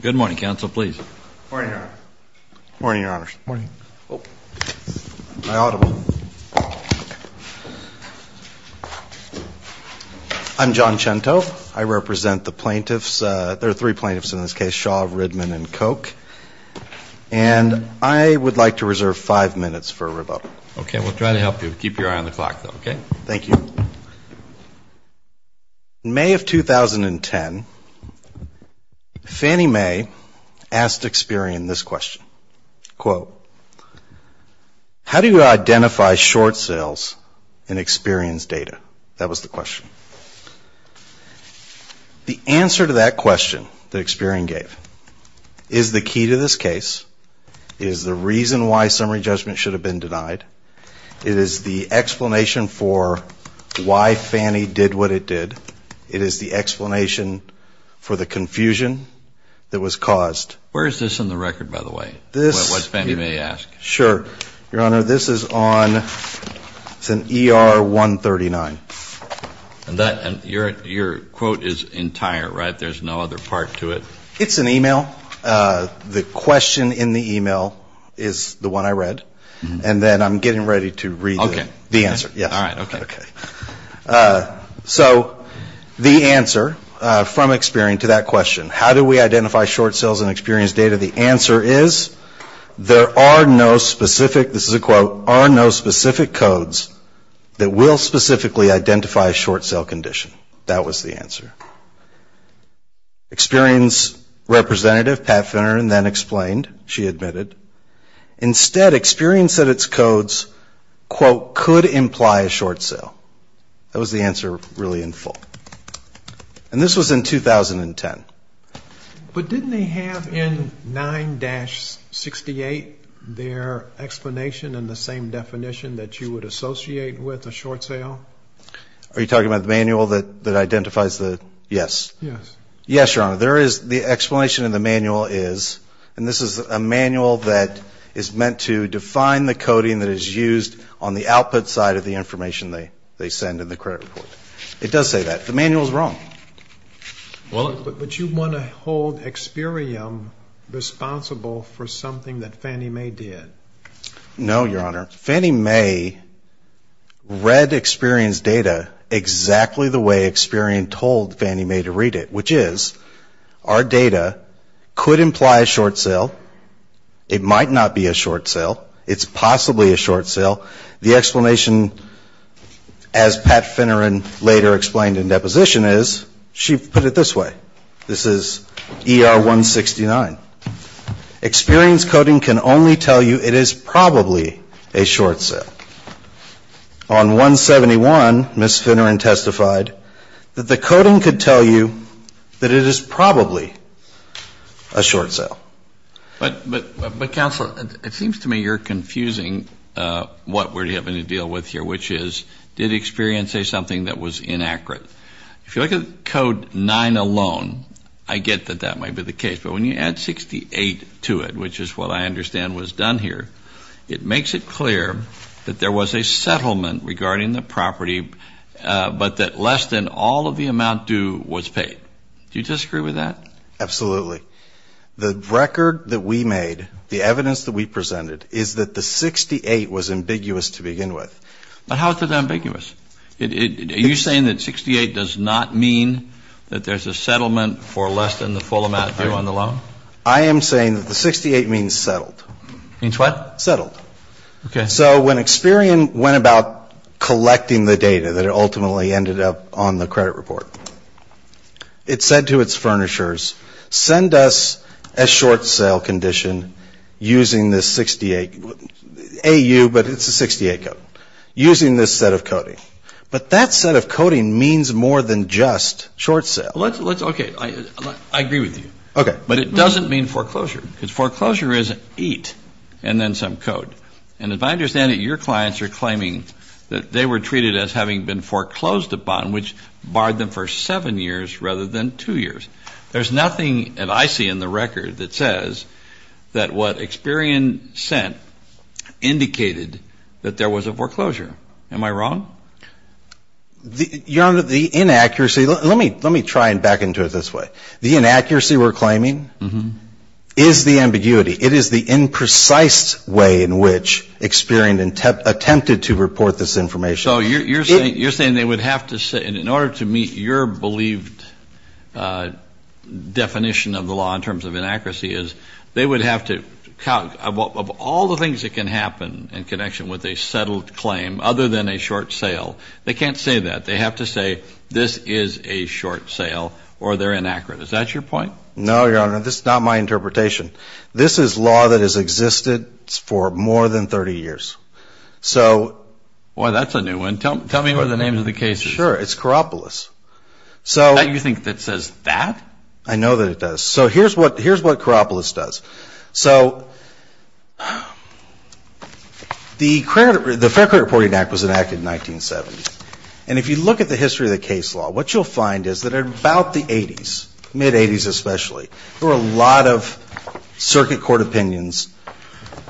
Good morning, Counsel, please. Morning, Your Honor. Morning, Your Honors. Morning. My audible. I'm John Cento. I represent the plaintiffs. There are three plaintiffs in this case, Shaw, Ridman, and Koch. And I would like to reserve five minutes for rebuttal. Okay, we'll try to help you. Keep your eye on the clock, though, okay? Thank you. In May of 2010, Fannie Mae asked Experian this question, quote, how do you identify short sales in Experian's data? That was the question. The answer to that question that Experian gave is the key to this case, is the reason why summary judgment should have been denied, it is the explanation for why Fannie did what it did, it is the explanation for the confusion that was caused. Where is this in the record, by the way, what Fannie Mae asked? Sure. Your Honor, this is on ER-139. And your quote is entire, right? There's no other part to it? It's an email. The question in the email is the one I read. And then I'm getting ready to read the answer. So the answer from Experian to that question, how do we identify short sales in Experian's data? The answer is there are no specific, this is a quote, are no specific codes that will specifically identify a short sale condition. That was the answer. Experian's representative, Pat Finneran, then explained, she admitted, instead Experian said its codes, quote, could imply a short sale. That was the answer really in full. And this was in 2010. But didn't they have in 9-68 their explanation and the same definition that you would associate with a short sale? Are you talking about the manual that identifies the, yes. Yes. Yes, Your Honor. There is, the explanation in the manual is, and this is a manual that is meant to define the coding that is used on the output side of the information they send in the credit report. It does say that. The manual is wrong. But you want to hold Experian responsible for something that Fannie Mae did. No, Your Honor. Fannie Mae read Experian's data exactly the way Experian told Fannie Mae to read it, which is, our data could imply a short sale. It might not be a short sale. It's possibly a short sale. The explanation, as Pat Finneran later explained in deposition is, she put it this way. This is ER-169. Experian's coding can only tell you it is probably a short sale. On 171, Ms. Finneran testified that the coding could tell you that it is probably a short sale. But, Counsel, it seems to me you're confusing what we're having to deal with here, which is, did Experian say something that was inaccurate? If you look at Code 9 alone, I get that that might be the case. But when you add 68 to it, which is what I understand was done here, it makes it clear that there was a settlement regarding the property, but that less than all of the amount due was paid. Do you disagree with that? Absolutely. The record that we made, the evidence that we presented, is that the 68 was ambiguous to begin with. But how is it ambiguous? Are you saying that 68 does not mean that there's a settlement for less than the full amount due on the loan? I am saying that the 68 means settled. Means what? Settled. Okay. So when Experian went about collecting the data that ultimately ended up on the credit report, it said to its furnishers, send us a short sale condition using this 68 AU, but it's a 68 code, using this set of coding. But that set of coding means more than just short sale. Okay. I agree with you. Okay. But it doesn't mean foreclosure, because foreclosure is eight and then some code. And if I understand it, your clients are claiming that they were treated as having been foreclosed upon, which barred them for seven years rather than two years. There's nothing that I see in the record that says that what Experian sent indicated that there was a foreclosure. Am I wrong? Your Honor, the inaccuracy, let me try and back into it this way. The inaccuracy we're claiming is the ambiguity. It is the imprecise way in which Experian attempted to report this information. So you're saying they would have to say, in order to meet your believed definition of the law in terms of inaccuracy, is they would have to, of all the things that can happen in connection with a settled claim other than a short sale, they can't say that. They have to say this is a short sale or they're inaccurate. Is that your point? No, Your Honor. This is not my interpretation. This is law that has existed for more than 30 years. Boy, that's a new one. Tell me what the name of the case is. Sure. It's Karopoulos. You think that says that? I know that it does. So here's what Karopoulos does. So the Fair Credit Reporting Act was enacted in 1970, and if you look at the history of the case law, what you'll find is that in about the 80s, mid-80s especially, there were a lot of circuit court opinions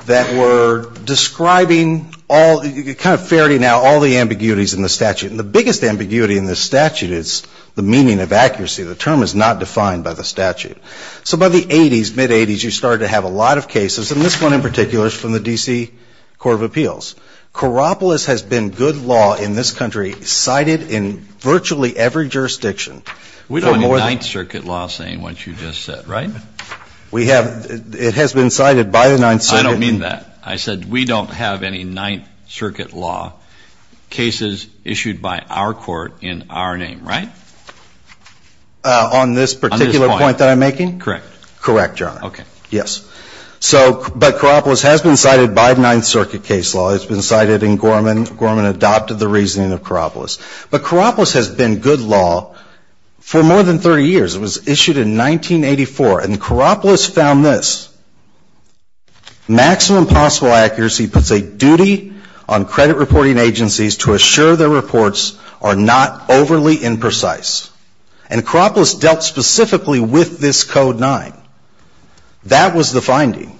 that were describing all, kind of ferreting out all the ambiguities in the statute. And the biggest ambiguity in this statute is the meaning of accuracy. The term is not defined by the statute. So by the 80s, mid-80s, you started to have a lot of cases, and this one in particular is from the D.C. Court of Appeals. Karopoulos has been good law in this country, cited in virtually every jurisdiction. We don't have Ninth Circuit law saying what you just said, right? We have. It has been cited by the Ninth Circuit. I don't mean that. I said we don't have any Ninth Circuit law cases issued by our court in our name, right? On this particular point that I'm making? Correct. Correct, Your Honor. Okay. Yes. So, but Karopoulos has been cited by the Ninth Circuit case law. It's been cited in Gorman. Gorman adopted the reasoning of Karopoulos. But Karopoulos has been good law for more than 30 years. It was issued in 1984, and Karopoulos found this. Maximum possible accuracy puts a duty on credit reporting agencies to assure their reports are not overly imprecise. And Karopoulos dealt specifically with this Code 9. That was the finding.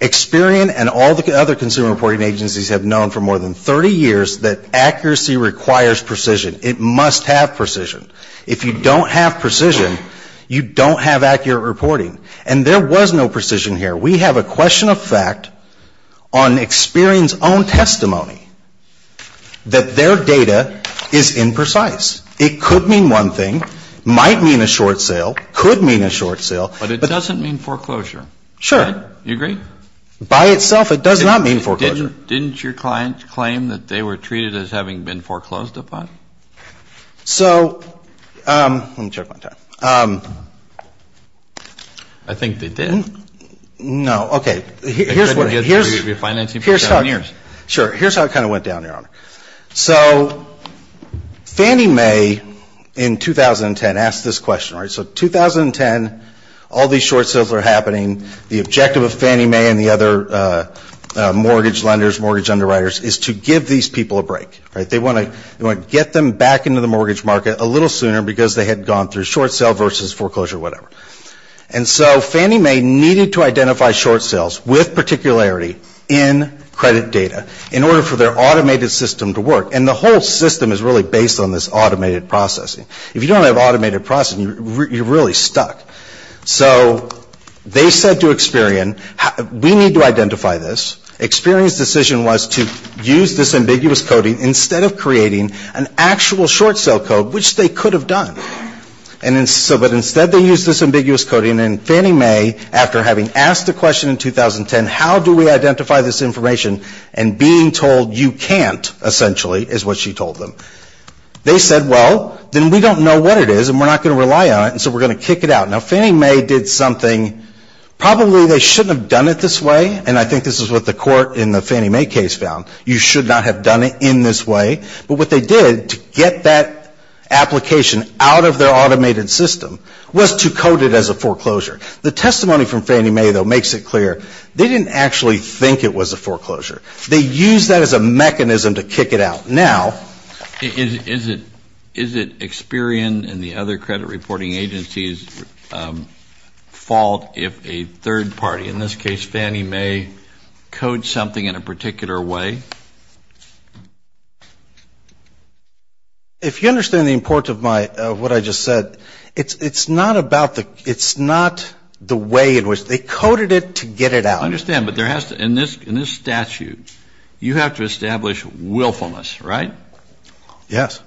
Experian and all the other consumer reporting agencies have known for more than 30 years that accuracy requires precision. It must have precision. If you don't have precision, you don't have accurate reporting. And there was no precision here. We have a question of fact on Experian's own testimony that their data is imprecise. It could mean one thing, might mean a short sale, could mean a short sale. But it doesn't mean foreclosure. Sure. You agree? By itself, it does not mean foreclosure. Didn't your client claim that they were treated as having been foreclosed upon? So let me check my time. I think they did. No. Okay. You're financing for seven years. Sure. Here's how it kind of went down, Your Honor. So Fannie Mae in 2010 asked this question, right? So 2010, all these short sales are happening. The objective of Fannie Mae and the other mortgage lenders, mortgage underwriters, is to give these people a break, right? They want to get them back into the mortgage market a little sooner because they had gone through short sale versus foreclosure, whatever. And so Fannie Mae needed to identify short sales with particularity in credit data in order for their automated system to work. And the whole system is really based on this automated processing. If you don't have automated processing, you're really stuck. So they said to Experian, we need to identify this. Experian's decision was to use this ambiguous coding instead of creating an actual short sale code, which they could have done. But instead they used this ambiguous coding. And Fannie Mae, after having asked the question in 2010, how do we identify this information and being told you can't, essentially, is what she told them. They said, well, then we don't know what it is and we're not going to rely on it, and so we're going to kick it out. Now, Fannie Mae did something. Probably they shouldn't have done it this way, and I think this is what the court in the Fannie Mae case found. You should not have done it in this way. But what they did to get that application out of their automated system was to code it as a foreclosure. The testimony from Fannie Mae, though, makes it clear. They didn't actually think it was a foreclosure. They used that as a mechanism to kick it out. Now, is it Experian and the other credit reporting agencies' fault if a third party, in this case Fannie Mae, codes something in a particular way? If you understand the importance of what I just said, it's not the way in which they coded it to get it out. I understand. In this statute, you have to establish willfulness, right? Yes.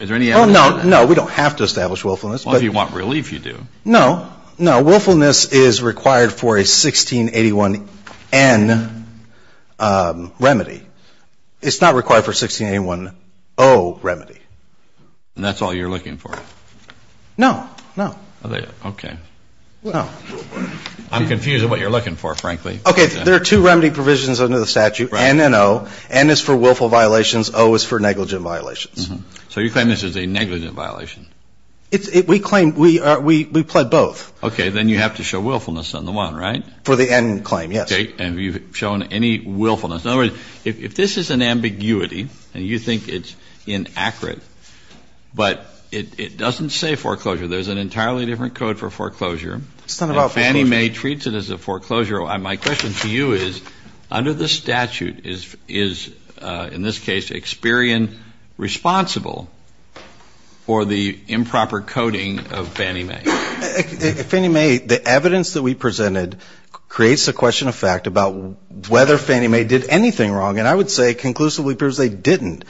Is there any evidence of that? No. We don't have to establish willfulness. Well, if you want relief, you do. No. No. Willfulness is required for a 1681N remedy. It's not required for a 1681O remedy. And that's all you're looking for? No. No. Okay. No. I'm confused at what you're looking for, frankly. Okay. There are two remedy provisions under the statute, N and O. N is for willful violations. O is for negligent violations. So you claim this is a negligent violation? We claim we pled both. Okay. Then you have to show willfulness on the one, right? For the N claim, yes. Okay. And have you shown any willfulness? In other words, if this is an ambiguity and you think it's inaccurate, but it doesn't say foreclosure. There's an entirely different code for foreclosure. It's not about foreclosure. And Fannie Mae treats it as a foreclosure. My question to you is, under the statute, is, in this case, Experian responsible for the improper coding of Fannie Mae? Fannie Mae, the evidence that we presented creates a question of fact about whether Fannie Mae did anything wrong. And I would say conclusively, it appears they didn't.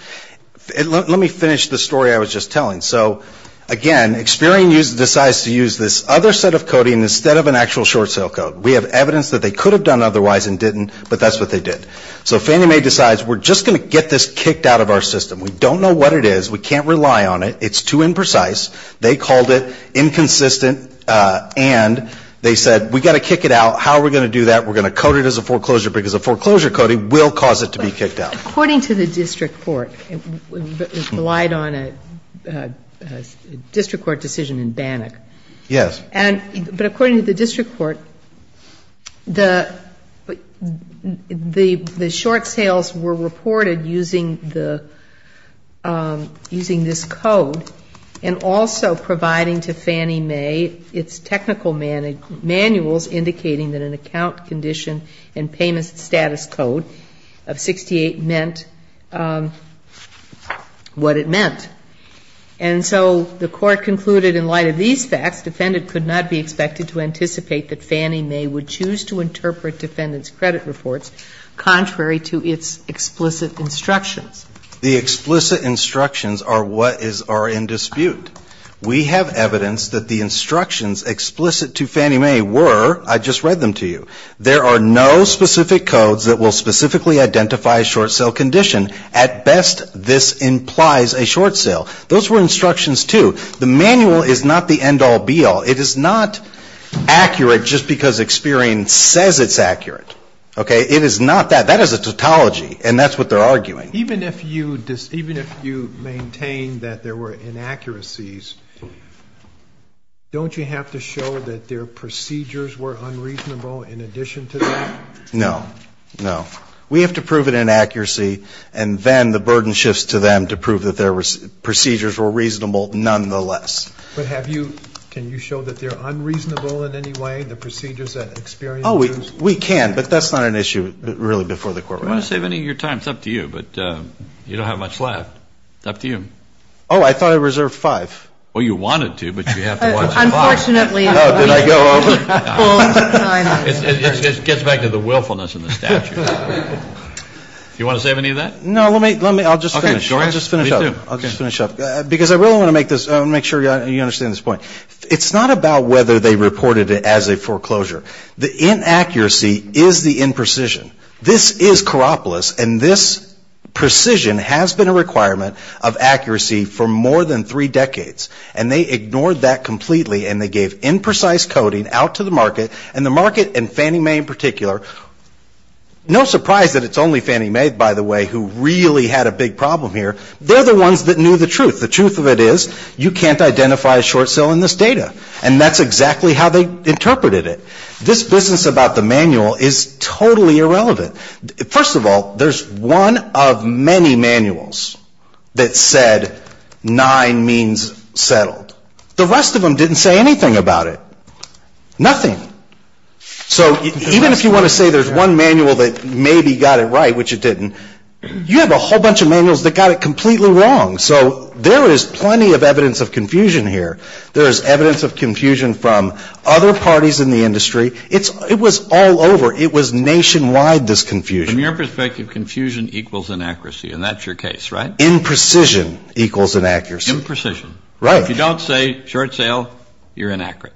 Let me finish the story I was just telling. So, again, Experian decides to use this other set of coding instead of an actual short sale code. We have evidence that they could have done otherwise and didn't, but that's what they did. So Fannie Mae decides we're just going to get this kicked out of our system. We don't know what it is. We can't rely on it. It's too imprecise. They called it inconsistent, and they said we've got to kick it out. How are we going to do that? We're going to code it as a foreclosure because a foreclosure coding will cause it to be kicked out. According to the district court, it relied on a district court decision in Bannock. Yes. But according to the district court, the short sales were reported using this code and also providing to Fannie Mae its technical manuals indicating that an account condition and payment status code of 68 meant what it meant. And so the court concluded in light of these facts, defendant could not be expected to anticipate that Fannie Mae would choose to interpret defendant's credit reports contrary to its explicit instructions. The explicit instructions are what is in dispute. We have evidence that the instructions explicit to Fannie Mae were, I just read them to you, there are no specific codes that will specifically identify a short sale condition. At best, this implies a short sale. Those were instructions, too. The manual is not the end-all, be-all. It is not accurate just because experience says it's accurate. Okay? It is not that. That is a tautology, and that's what they're arguing. Even if you maintain that there were inaccuracies, don't you have to show that their procedures were unreasonable in addition to that? No. No. We have to prove an inaccuracy and then the burden shifts to them to prove that their procedures were reasonable nonetheless. But have you, can you show that they're unreasonable in any way, the procedures that experience? Oh, we can, but that's not an issue really before the court. We're not going to save any of your time. It's up to you, but you don't have much left. It's up to you. Oh, I thought I reserved five. Well, you wanted to, but you have to watch the clock. Unfortunately. Oh, did I go over? Full time. It gets back to the willfulness in the statute. Do you want to save any of that? No, let me, I'll just finish. Okay. Go ahead and just finish up. Me too. I'll just finish up because I really want to make this, I want to make sure you understand this point. It's not about whether they reported it as a foreclosure. The inaccuracy is the imprecision. This is Karopolis, and this precision has been a requirement of accuracy for more than three decades, and they ignored that completely, and they gave imprecise coding out to the market, and the market, and Fannie Mae in particular, no surprise that it's only Fannie Mae, by the way, who really had a big problem here. They're the ones that knew the truth. The truth of it is you can't identify a short sale in this data, and that's exactly how they interpreted it. This business about the manual is totally irrelevant. First of all, there's one of many manuals that said nine means settled. The rest of them didn't say anything about it, nothing. So even if you want to say there's one manual that maybe got it right, which it didn't, you have a whole bunch of manuals that got it completely wrong. So there is plenty of evidence of confusion here. There is evidence of confusion from other parties in the industry. It was all over. It was nationwide, this confusion. From your perspective, confusion equals inaccuracy, and that's your case, right? Imprecision equals inaccuracy. Imprecision. Right. If you don't say short sale, you're inaccurate.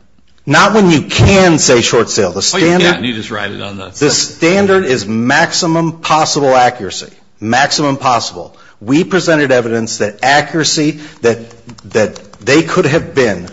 Not when you can say short sale. The standard is maximum possible accuracy, maximum possible. We presented evidence that accuracy, that they could have been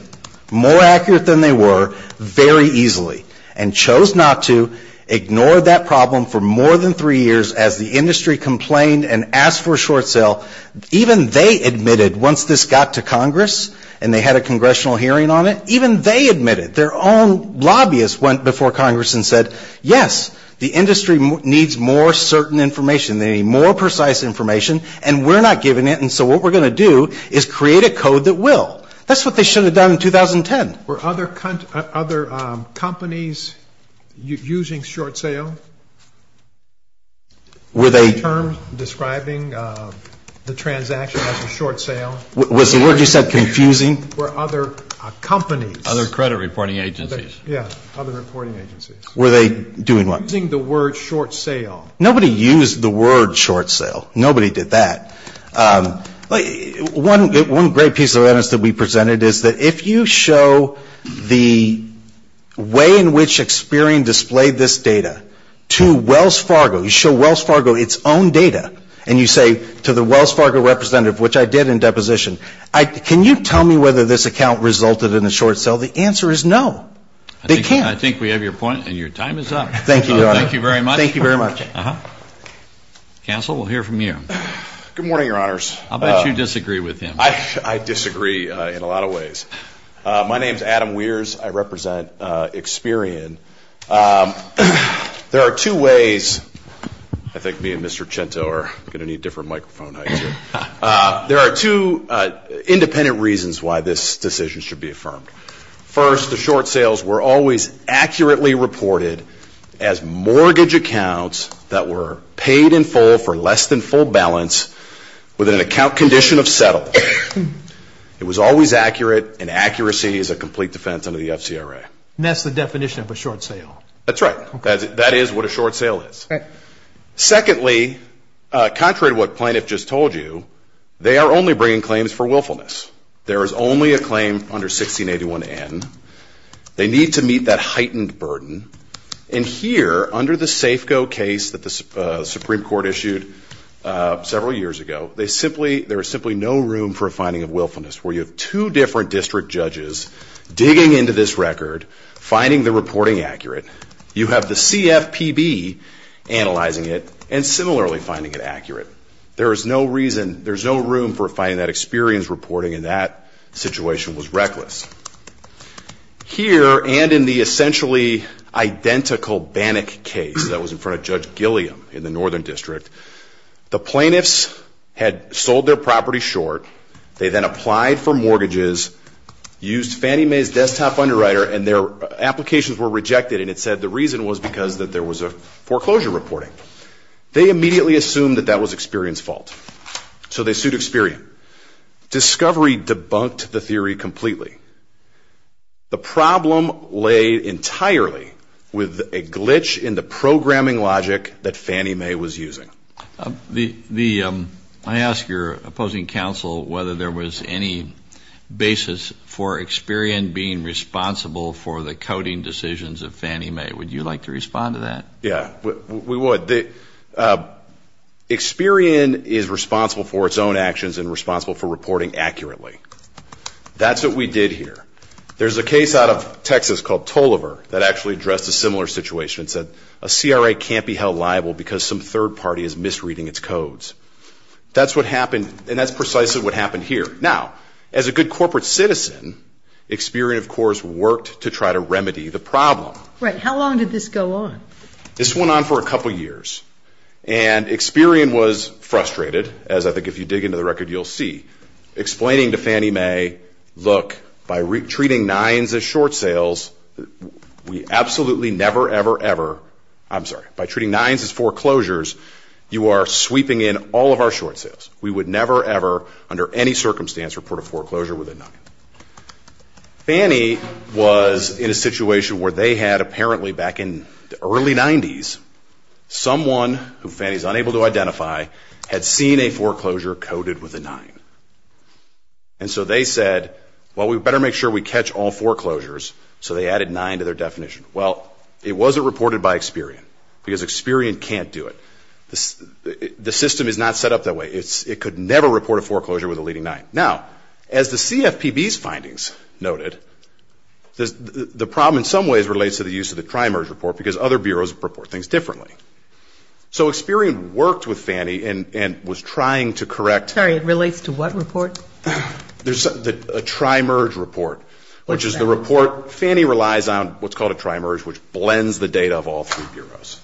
more accurate than they were very easily, and chose not to, ignored that problem for more than three years as the industry complained and asked for a short sale. Even they admitted, once this got to Congress and they had a congressional hearing on it, even they admitted, their own lobbyists went before Congress and said, yes, the industry needs more certain information. They need more precise information. And we're not giving it. And so what we're going to do is create a code that will. That's what they should have done in 2010. Were other companies using short sale? Were they? Any terms describing the transaction as a short sale? Was the word you said confusing? Were other companies? Other credit reporting agencies. Yeah, other reporting agencies. Were they doing what? Using the word short sale. Nobody used the word short sale. Nobody did that. One great piece of evidence that we presented is that if you show the way in which Experian displayed this data to Wells Fargo, you show Wells Fargo its own data, and you say to the Wells Fargo representative, which I did in deposition, can you tell me whether this account resulted in a short sale? The answer is no. They can't. I think we have your point, and your time is up. Thank you, Your Honor. Thank you very much. Counsel, we'll hear from you. Good morning, Your Honors. I'll bet you disagree with him. I disagree in a lot of ways. My name is Adam Weers. I represent Experian. There are two ways, I think me and Mr. Cento are going to need different microphone heights here. There are two independent reasons why this decision should be affirmed. First, the short sales were always accurately reported as mortgage accounts that were paid in full for less than full balance with an account condition of settled. It was always accurate, and accuracy is a complete defense under the FCRA. And that's the definition of a short sale. That's right. That is what a short sale is. Secondly, contrary to what plaintiff just told you, they are only bringing claims for willfulness. There is only a claim under 1681N. They need to meet that heightened burden. And here, under the Safeco case that the Supreme Court issued several years ago, there is simply no room for a finding of willfulness where you have two different district judges digging into this record, finding the reporting accurate. You have the CFPB analyzing it and similarly finding it accurate. There is no reason, there is no room for finding that experience reporting, and that situation was reckless. Here, and in the essentially identical Bannock case that was in front of Judge Gilliam in the Northern District, the plaintiffs had sold their property short. They then applied for mortgages, used Fannie Mae's desktop underwriter, and their applications were rejected. And it said the reason was because there was a foreclosure reporting. They immediately assumed that that was Experian's fault, so they sued Experian. Discovery debunked the theory completely. The problem lay entirely with a glitch in the programming logic that Fannie Mae was using. I ask your opposing counsel whether there was any basis for Experian being responsible for the coding decisions of Fannie Mae. Would you like to respond to that? Yeah, we would. Experian is responsible for its own actions and responsible for reporting accurately. That's what we did here. There's a case out of Texas called Toliver that actually addressed a similar situation. It said a CRA can't be held liable because some third party is misreading its codes. That's what happened, and that's precisely what happened here. Now, as a good corporate citizen, Experian, of course, worked to try to remedy the problem. Right. How long did this go on? This went on for a couple years, and Experian was frustrated, as I think if you dig into the record, you'll see. Explaining to Fannie Mae, look, by treating nines as foreclosures, you are sweeping in all of our short sales. We would never ever, under any circumstance, report a foreclosure with a nine. Fannie was in a situation where they had, apparently back in the early 90s, someone who Fannie is unable to identify had seen a foreclosure coded with a nine. And so they said, well, we better make sure we catch all foreclosures, so they added nine to their definition. Well, it wasn't reported by Experian because Experian can't do it. The system is not set up that way. It could never report a foreclosure with a leading nine. Now, as the CFPB's findings noted, the problem in some ways relates to the use of the tri-merge report because other bureaus report things differently. So Experian worked with Fannie and was trying to correct. Sorry, it relates to what report? The tri-merge report, which is the report Fannie relies on, what's called a tri-merge, which blends the data of all three bureaus.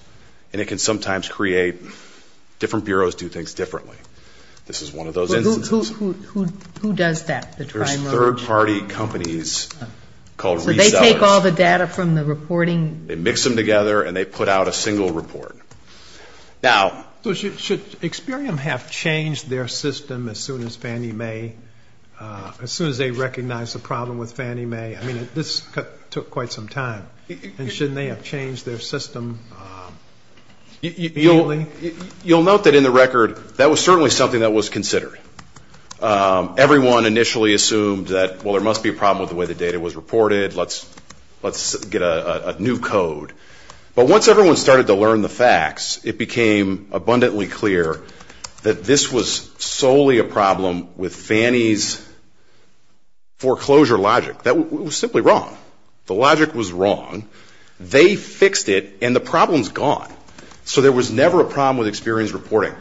And it can sometimes create different bureaus do things differently. This is one of those instances. Who does that, the tri-merge? There's third-party companies called resellers. So they take all the data from the reporting? They mix them together and they put out a single report. Now. So should Experian have changed their system as soon as Fannie Mae, as soon as they recognized the problem with Fannie Mae? I mean, this took quite some time. And shouldn't they have changed their system fully? You'll note that in the record that was certainly something that was considered. Everyone initially assumed that, well, there must be a problem with the way the data was reported, let's get a new code. But once everyone started to learn the facts, it became abundantly clear that this was solely a problem with Fannie's foreclosure logic. It was simply wrong. The logic was wrong. They fixed it, and the problem's gone. So there was never a problem with Experian's reporting.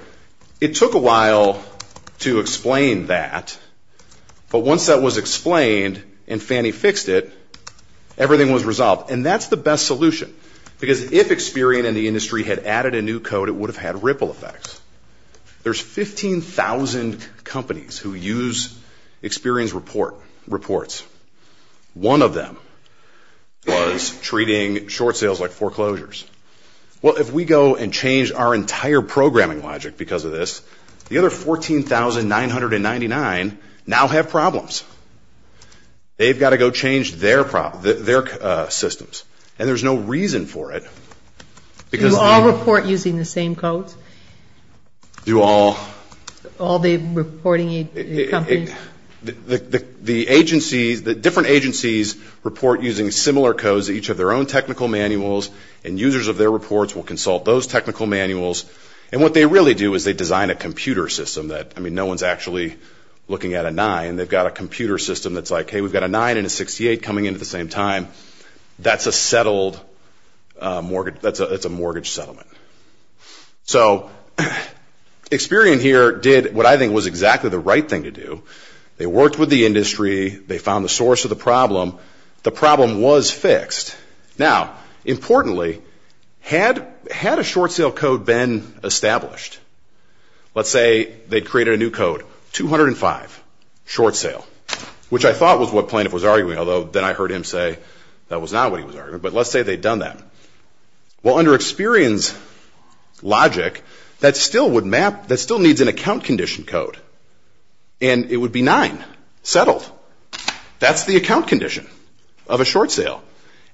It took a while to explain that. But once that was explained and Fannie fixed it, everything was resolved. And that's the best solution. Because if Experian and the industry had added a new code, it would have had ripple effects. There's 15,000 companies who use Experian's reports. One of them was treating short sales like foreclosures. Well, if we go and change our entire programming logic because of this, the other 14,999 now have problems. They've got to go change their systems. And there's no reason for it. Do all report using the same codes? Do all. All the reporting companies? The agencies, the different agencies report using similar codes, each have their own technical manuals, and users of their reports will consult those technical manuals. And what they really do is they design a computer system that, I mean, no one's actually looking at a 9. They've got a computer system that's like, hey, we've got a 9 and a 68 coming in at the same time. That's a settled mortgage. That's a mortgage settlement. So Experian here did what I think was exactly the right thing to do. They worked with the industry. They found the source of the problem. The problem was fixed. Now, importantly, had a short sale code been established? Let's say they created a new code, 205, short sale, which I thought was what Plaintiff was arguing, although then I heard him say that was not what he was arguing. But let's say they'd done that. Well, under Experian's logic, that still would map, that still needs an account condition code. And it would be 9, settled. That's the account condition of a short sale.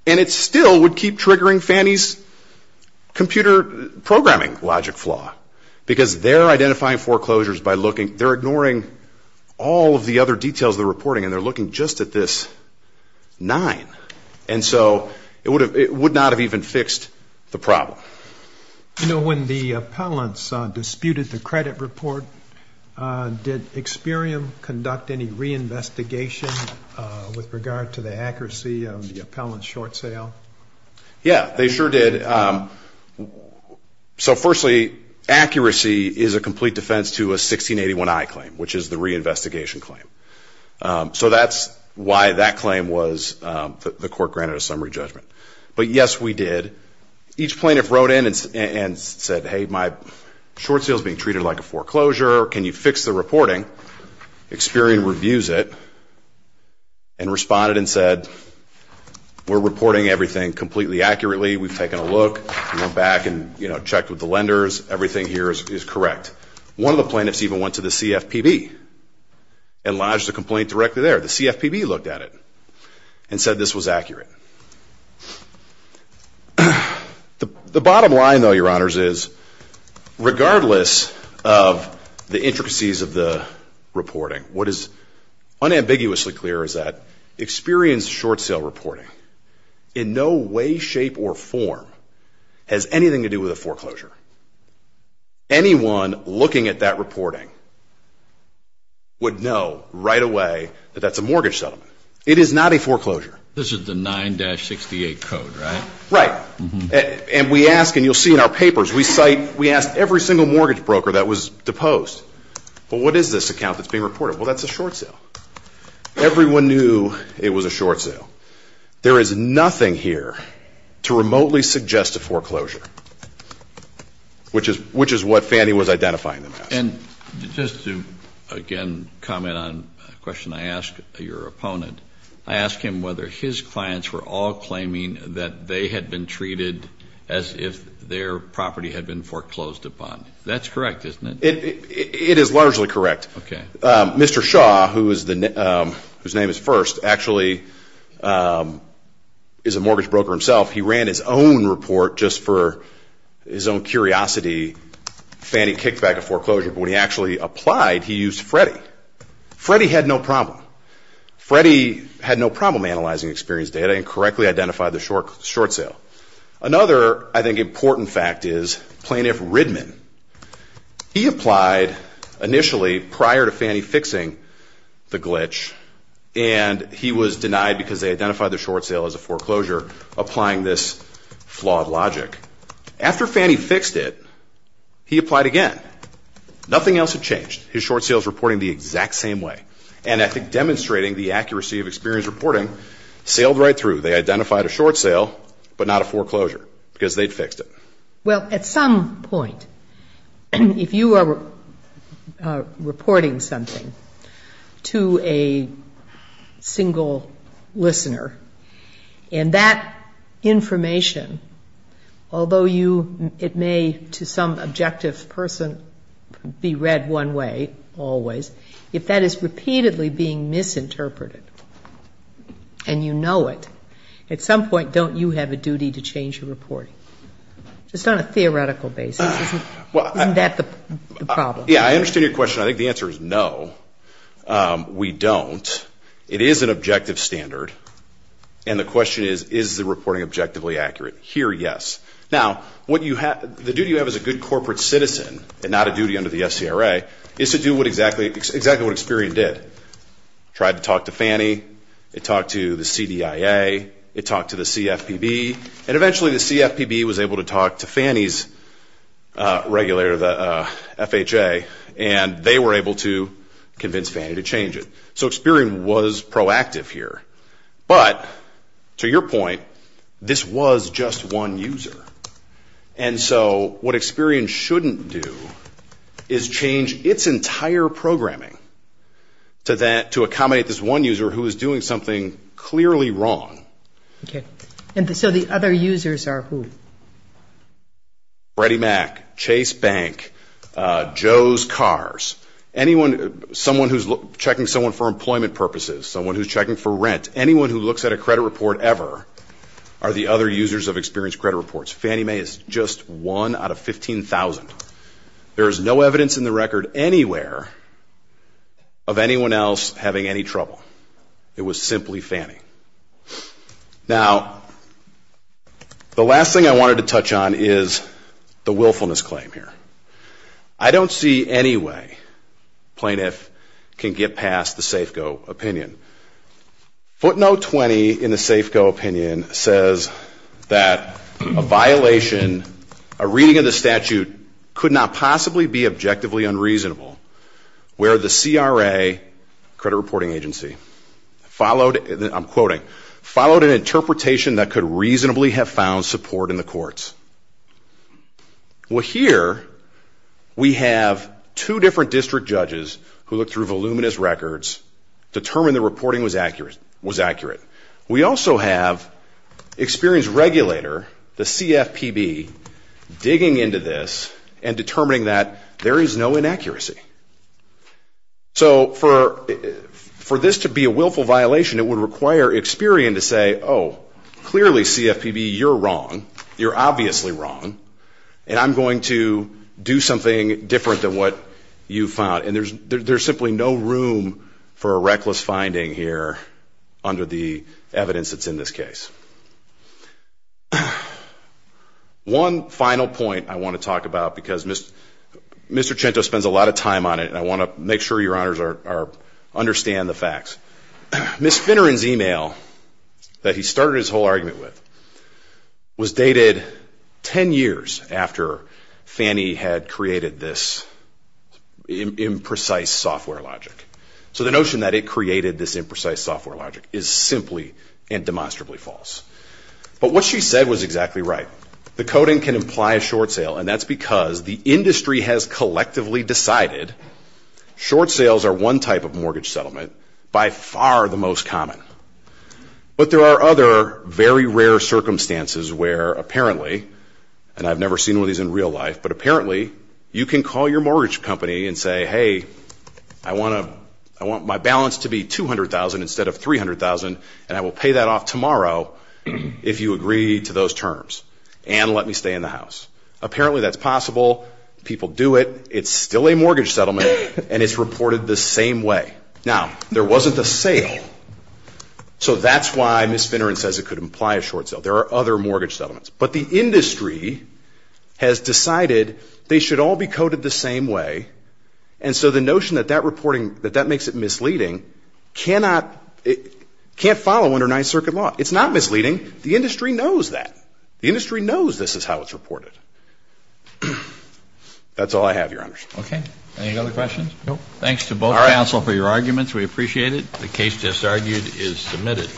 And it still would keep triggering Fannie's computer programming logic flaw, because they're identifying foreclosures by looking, they're ignoring all of the other details of the reporting and they're looking just at this 9. And so it would not have even fixed the problem. You know, when the appellants disputed the credit report, did Experian conduct any reinvestigation with regard to the accuracy of the appellant's short sale? Yeah, they sure did. So firstly, accuracy is a complete defense to a 1681I claim, which is the reinvestigation claim. So that's why that claim was, the court granted a summary judgment. But yes, we did. Each plaintiff wrote in and said, hey, my short sale is being treated like a foreclosure. Can you fix the reporting? Experian reviews it and responded and said, we're reporting everything completely accurately. We've taken a look. We went back and, you know, checked with the lenders. Everything here is correct. One of the plaintiffs even went to the CFPB and lodged a complaint directly there. The CFPB looked at it and said this was accurate. The bottom line, though, Your Honors, is regardless of the intricacies of the reporting, what is unambiguously clear is that Experian's short sale reporting in no way, shape, or form has anything to do with a foreclosure. Anyone looking at that reporting would know right away that that's a mortgage settlement. It is not a foreclosure. This is the 9-68 code, right? Right. And we ask, and you'll see in our papers, we cite, we ask every single mortgage broker that was deposed, well, what is this account that's being reported? Well, that's a short sale. Everyone knew it was a short sale. There is nothing here to remotely suggest a foreclosure, which is what Fannie was identifying them as. And just to, again, comment on a question I asked your opponent, I asked him whether his clients were all claiming that they had been treated as if their property had been foreclosed upon. That's correct, isn't it? It is largely correct. Okay. Mr. Shaw, whose name is First, actually is a mortgage broker himself. He ran his own report just for his own curiosity. Fannie kicked back a foreclosure, but when he actually applied, he used Freddie. Freddie had no problem. Freddie had no problem analyzing Experian's data and correctly identified the short sale. Another, I think, important fact is Plaintiff Ridman. He applied initially prior to Fannie fixing the glitch, and he was denied because they identified the short sale as a foreclosure, applying this flawed logic. After Fannie fixed it, he applied again. Nothing else had changed. His short sale was reporting the exact same way. And I think demonstrating the accuracy of Experian's reporting sailed right through. They identified a short sale, but not a foreclosure because they'd fixed it. Well, at some point, if you are reporting something to a single listener, and that information, although it may, to some objective person, be read one way always, if that is repeatedly being misinterpreted and you know it, at some point, don't you have a duty to change your reporting, just on a theoretical basis? Isn't that the problem? Yeah, I understand your question. I think the answer is no, we don't. It is an objective standard, and the question is, is the reporting objectively accurate? Here, yes. Now, the duty you have as a good corporate citizen, and not a duty under the SCRA, is to do exactly what Experian did. It tried to talk to FANI, it talked to the CDIA, it talked to the CFPB, and eventually the CFPB was able to talk to FANI's FHA, and they were able to convince FANI to change it. So Experian was proactive here. But, to your point, this was just one user. And so what Experian shouldn't do is change its entire programming to accommodate this one user who is doing something clearly wrong. Okay. And so the other users are who? Freddie Mac, Chase Bank, Joe's Cars, someone who's checking someone for employment purposes, someone who's checking for rent, anyone who looks at a credit report ever, are the other users of Experian's credit reports. FANIMAE is just one out of 15,000. There is no evidence in the record anywhere of anyone else having any trouble. It was simply FANI. Now, the last thing I wanted to touch on is the willfulness claim here. I don't see any way a plaintiff can get past the Safeco opinion. Footnote 20 in the Safeco opinion says that a violation, a reading of the statute, could not possibly be objectively unreasonable where the CRA, credit reporting agency, followed, I'm quoting, followed an interpretation that could reasonably have found support in the courts. Well, here we have two different district judges who looked through voluminous records, determined the reporting was accurate. We also have Experian's regulator, the CFPB, digging into this and determining that there is no inaccuracy. So for this to be a willful violation, it would require Experian to say, oh, clearly, CFPB, you're wrong. You're obviously wrong, and I'm going to do something different than what you found. And there's simply no room for a reckless finding here under the evidence that's in this case. One final point I want to talk about, because Mr. Cento spends a lot of time on it, and I want to make sure your honors understand the facts. Ms. Finneran's email that he started his whole argument with was dated 10 years after Fannie had created this imprecise software logic. So the notion that it created this imprecise software logic is simply and demonstrably false. But what she said was exactly right. The coding can imply a short sale, and that's because the industry has collectively decided short sales are one type of mortgage settlement, by far the most common. But there are other very rare circumstances where apparently, and I've never seen one of these in real life, but apparently you can call your mortgage company and say, hey, I want my balance to be $200,000 instead of $300,000, and I will pay that off tomorrow if you agree to those terms and let me stay in the house. Apparently that's possible. People do it. It's still a mortgage settlement, and it's reported the same way. Now, there wasn't a sale, so that's why Ms. Finneran says it could imply a short sale. There are other mortgage settlements. But the industry has decided they should all be coded the same way, and so the notion that that makes it misleading can't follow under Ninth Circuit law. It's not misleading. The industry knows that. The industry knows this is how it's reported. That's all I have, your honors. Okay. Any other questions? No. Thanks to both counsel for your arguments. We appreciate it. The case just argued is submitted.